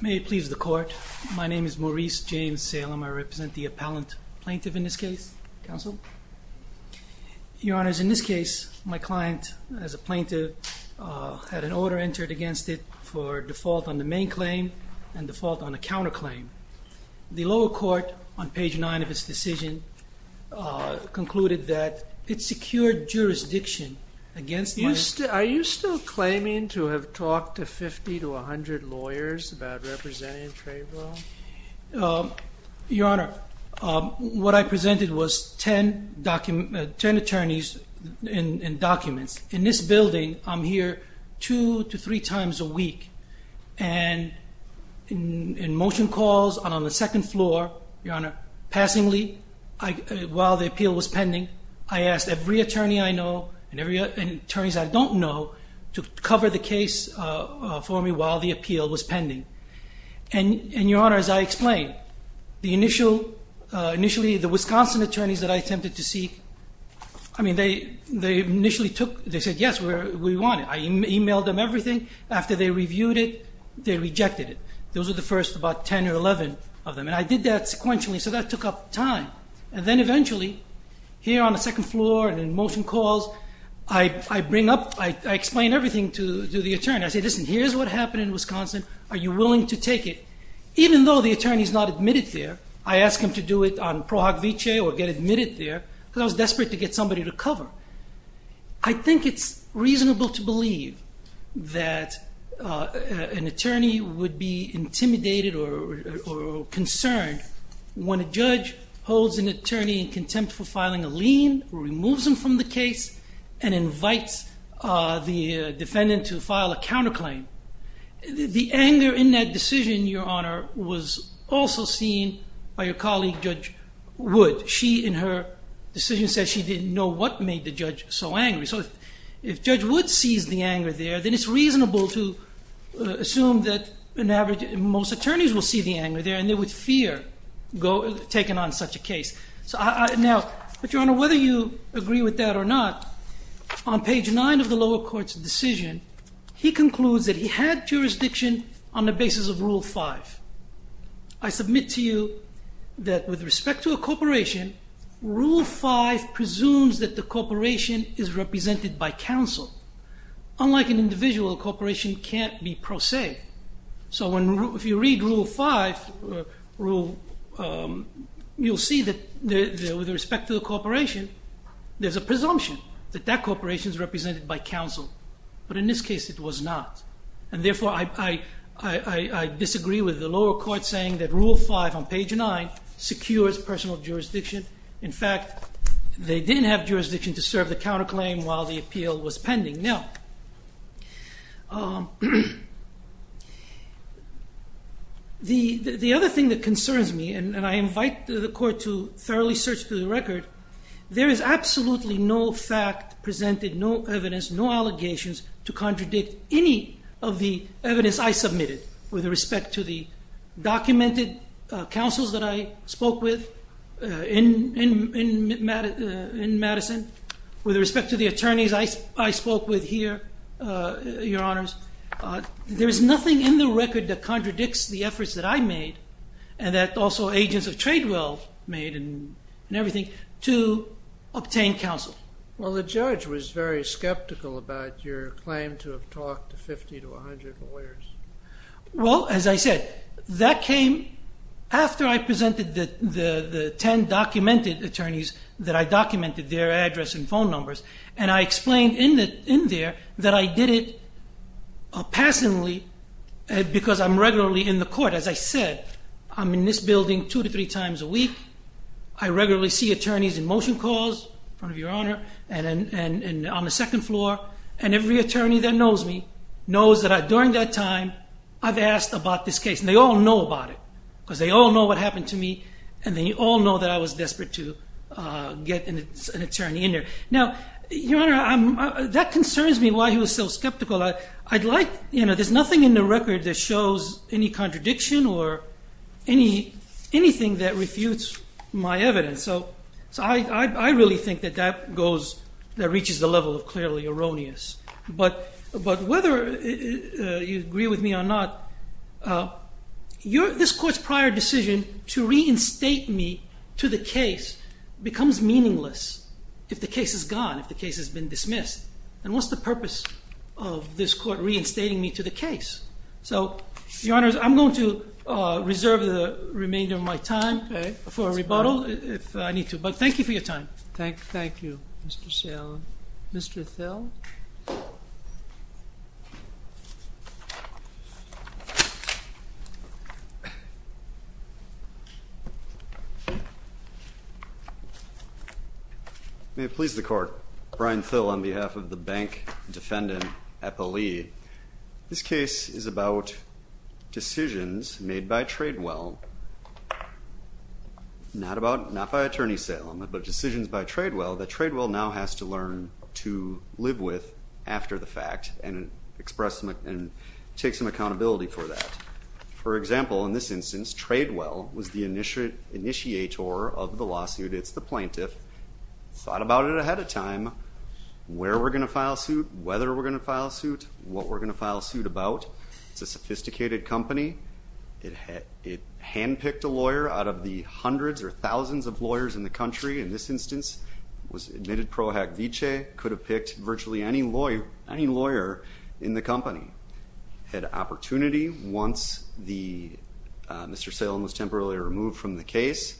May it please the court. My name is Maurice James Salem. I represent the appellant plaintiff in this case counsel Your honors in this case my client as a plaintiff Had an order entered against it for default on the main claim and default on a counter claim The lower court on page 9 of his decision Concluded that it secured Jurisdiction against you still are you still claiming to have talked to 50 to 100 lawyers about representing? Your honor What I presented was 10 document 10 attorneys in documents in this building I'm here two to three times a week and In motion calls and on the second floor your honor passingly I While the appeal was pending I asked every attorney. I know and every attorneys. I don't know to cover the case For me while the appeal was pending and and your honor as I explained the initial Initially the Wisconsin attorneys that I attempted to see I mean they they initially took they said yes We're we want it. I emailed them everything after they reviewed it. They rejected it Those are the first about 10 or 11 of them and I did that sequentially So that took up time and then eventually Here on the second floor and in motion calls. I Bring up I explain everything to do the attorney. I say listen, here's what happened in, Wisconsin Are you willing to take it? Even though the attorneys not admitted there I asked him to do it on Prague Vichy or get admitted there because I was desperate to get somebody to cover. I Think it's reasonable to believe that an attorney would be intimidated or Concerned when a judge holds an attorney in contempt for filing a lien removes him from the case and invites the defendant to file a counterclaim The anger in that decision your honor was also seen by your colleague judge Would she in her decision says she didn't know what made the judge so angry So if judge would seize the anger there, then it's reasonable to Assume that an average most attorneys will see the anger there and they would fear go taken on such a case So I now but your honor whether you agree with that or not On page 9 of the lower court's decision. He concludes that he had jurisdiction on the basis of rule 5. I submit to you that with respect to a corporation Rule 5 presumes that the corporation is represented by counsel Unlike an individual corporation can't be prosaic. So when if you read rule 5 rule You'll see that there with respect to the corporation There's a presumption that that corporation is represented by counsel. But in this case it was not and therefore I Disagree with the lower court saying that rule 5 on page 9 secures personal jurisdiction. In fact They didn't have jurisdiction to serve the counterclaim while the appeal was pending now The the other thing that concerns me and I invite the court to thoroughly search through the record There is absolutely no fact presented no evidence no allegations to contradict any of the evidence I submitted with respect to the documented councils that I spoke with in In Madison with respect to the attorneys I spoke with here your honors There's nothing in the record that contradicts the efforts that I made and that also agents of trade Well made and and everything to Obtain counsel. Well, the judge was very skeptical about your claim to have talked to 50 to 100 lawyers Well, as I said that came After I presented that the the ten documented attorneys that I documented their address and phone numbers and I explained in The in there that I did it passionately Because I'm regularly in the court as I said, I'm in this building two to three times a week I regularly see attorneys in motion calls front of your honor and and and on the second floor and Every attorney that knows me knows that I during that time. I've asked about this case and they all know about it Because they all know what happened to me and then you all know that I was desperate to Get an attorney in there now, you know, I'm that concerns me why he was so skeptical I I'd like you know, there's nothing in the record that shows any contradiction or any Anything that refutes my evidence. So so I really think that that goes that reaches the level of clearly erroneous but but whether You agree with me or not You're this court's prior decision to reinstate me to the case Becomes meaningless if the case is gone if the case has been dismissed and what's the purpose of this court reinstating me to the case? so your honors, I'm going to Reserve the remainder of my time for a rebuttal if I need to but thank you for your time. Thank you. Thank you Mr. Thel You May it please the court Brian Thel on behalf of the bank defendant a poli This case is about decisions made by Tradewell Not about not by Attorney Salem but decisions by Tradewell that Tradewell now has to learn to live with after the fact and Express them and take some accountability for that Example in this instance Tradewell was the initiate initiator of the lawsuit. It's the plaintiff Thought about it ahead of time Where we're gonna file suit whether we're gonna file suit what we're gonna file suit about. It's a sophisticated company It had it hand-picked a lawyer out of the hundreds or thousands of lawyers in the country in this instance Was admitted pro hack Vichy could have picked virtually any lawyer any lawyer in the company Had opportunity once the mr. Salem was temporarily removed from the case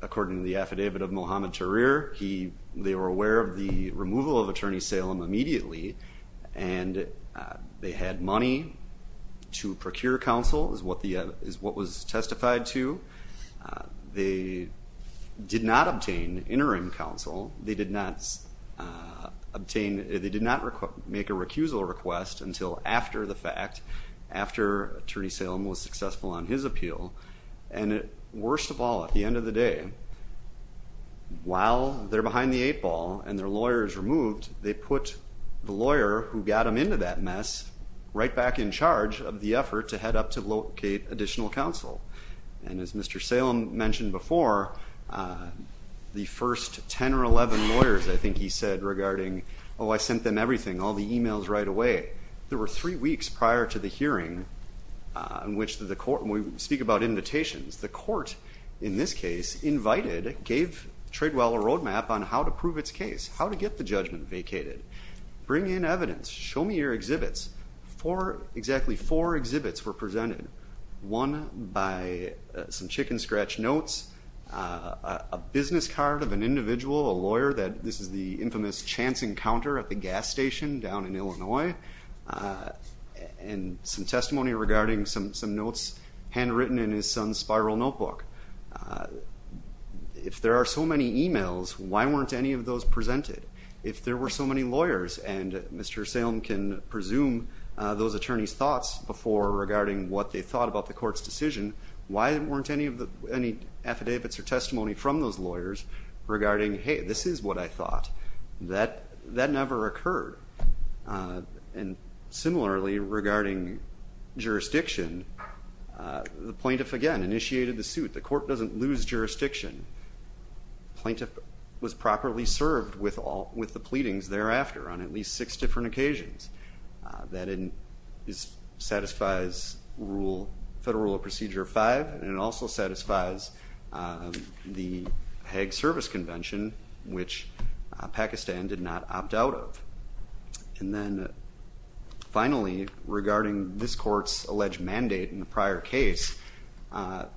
According to the affidavit of Mohammed Tahrir. He they were aware of the removal of Attorney Salem immediately and They had money To procure counsel is what the is what was testified to they Did not obtain interim counsel. They did not Obtain they did not request make a recusal request until after the fact After Attorney Salem was successful on his appeal and it worst of all at the end of the day While they're behind the eight ball and their lawyers removed they put the lawyer who got him into that mess Right back in charge of the effort to head up to locate additional counsel and as mr. Salem mentioned before The first 10 or 11 lawyers, I think he said regarding. Oh, I sent them everything all the emails right away There were three weeks prior to the hearing In which the court we speak about invitations the court in this case Invited gave trade well a roadmap on how to prove its case how to get the judgment vacated Bring in evidence show me your exhibits for exactly four exhibits were presented one by some chicken scratch notes A business card of an individual a lawyer that this is the infamous chance encounter at the gas station down in, Illinois And some testimony regarding some some notes handwritten in his son's spiral notebook If there are so many emails why weren't any of those presented if there were so many lawyers and mr Salem can presume those attorneys thoughts before regarding what they thought about the court's decision Why weren't any of the any affidavits or testimony from those lawyers Regarding hey, this is what I thought that that never occurred and similarly regarding jurisdiction The plaintiff again initiated the suit the court doesn't lose jurisdiction Plaintiff was properly served with all with the pleadings thereafter on at least six different occasions That in is satisfies rule federal procedure five and it also satisfies the Hague Service Convention, which Pakistan did not opt out of and then Finally regarding this court's alleged mandate in the prior case The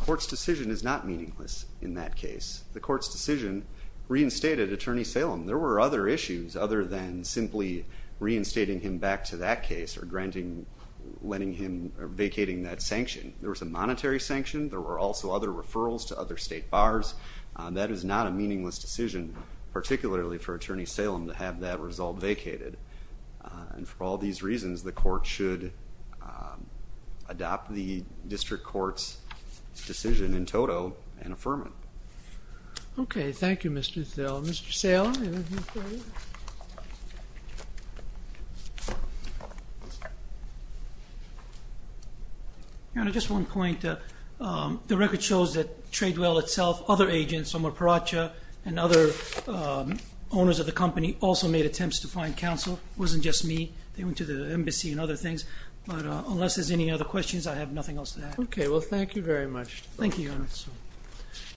court's decision is not meaningless in that case the court's decision Reinstated attorney Salem there were other issues other than simply Reinstating him back to that case or granting Letting him vacating that sanction there was a monetary sanction there were also other referrals to other state bars That is not a meaningless decision Particularly for attorney Salem to have that result vacated and for all these reasons the court should Adopt the district courts decision in toto and affirmant Okay, thank you, mr. Thelm's sale And at just one point the record shows that trade well itself other agents Omar Pracha and other Owners of the company also made attempts to find counsel wasn't just me They went to the embassy and other things, but unless there's any other questions. I have nothing else to that. Okay? Well, thank you very much. Thank you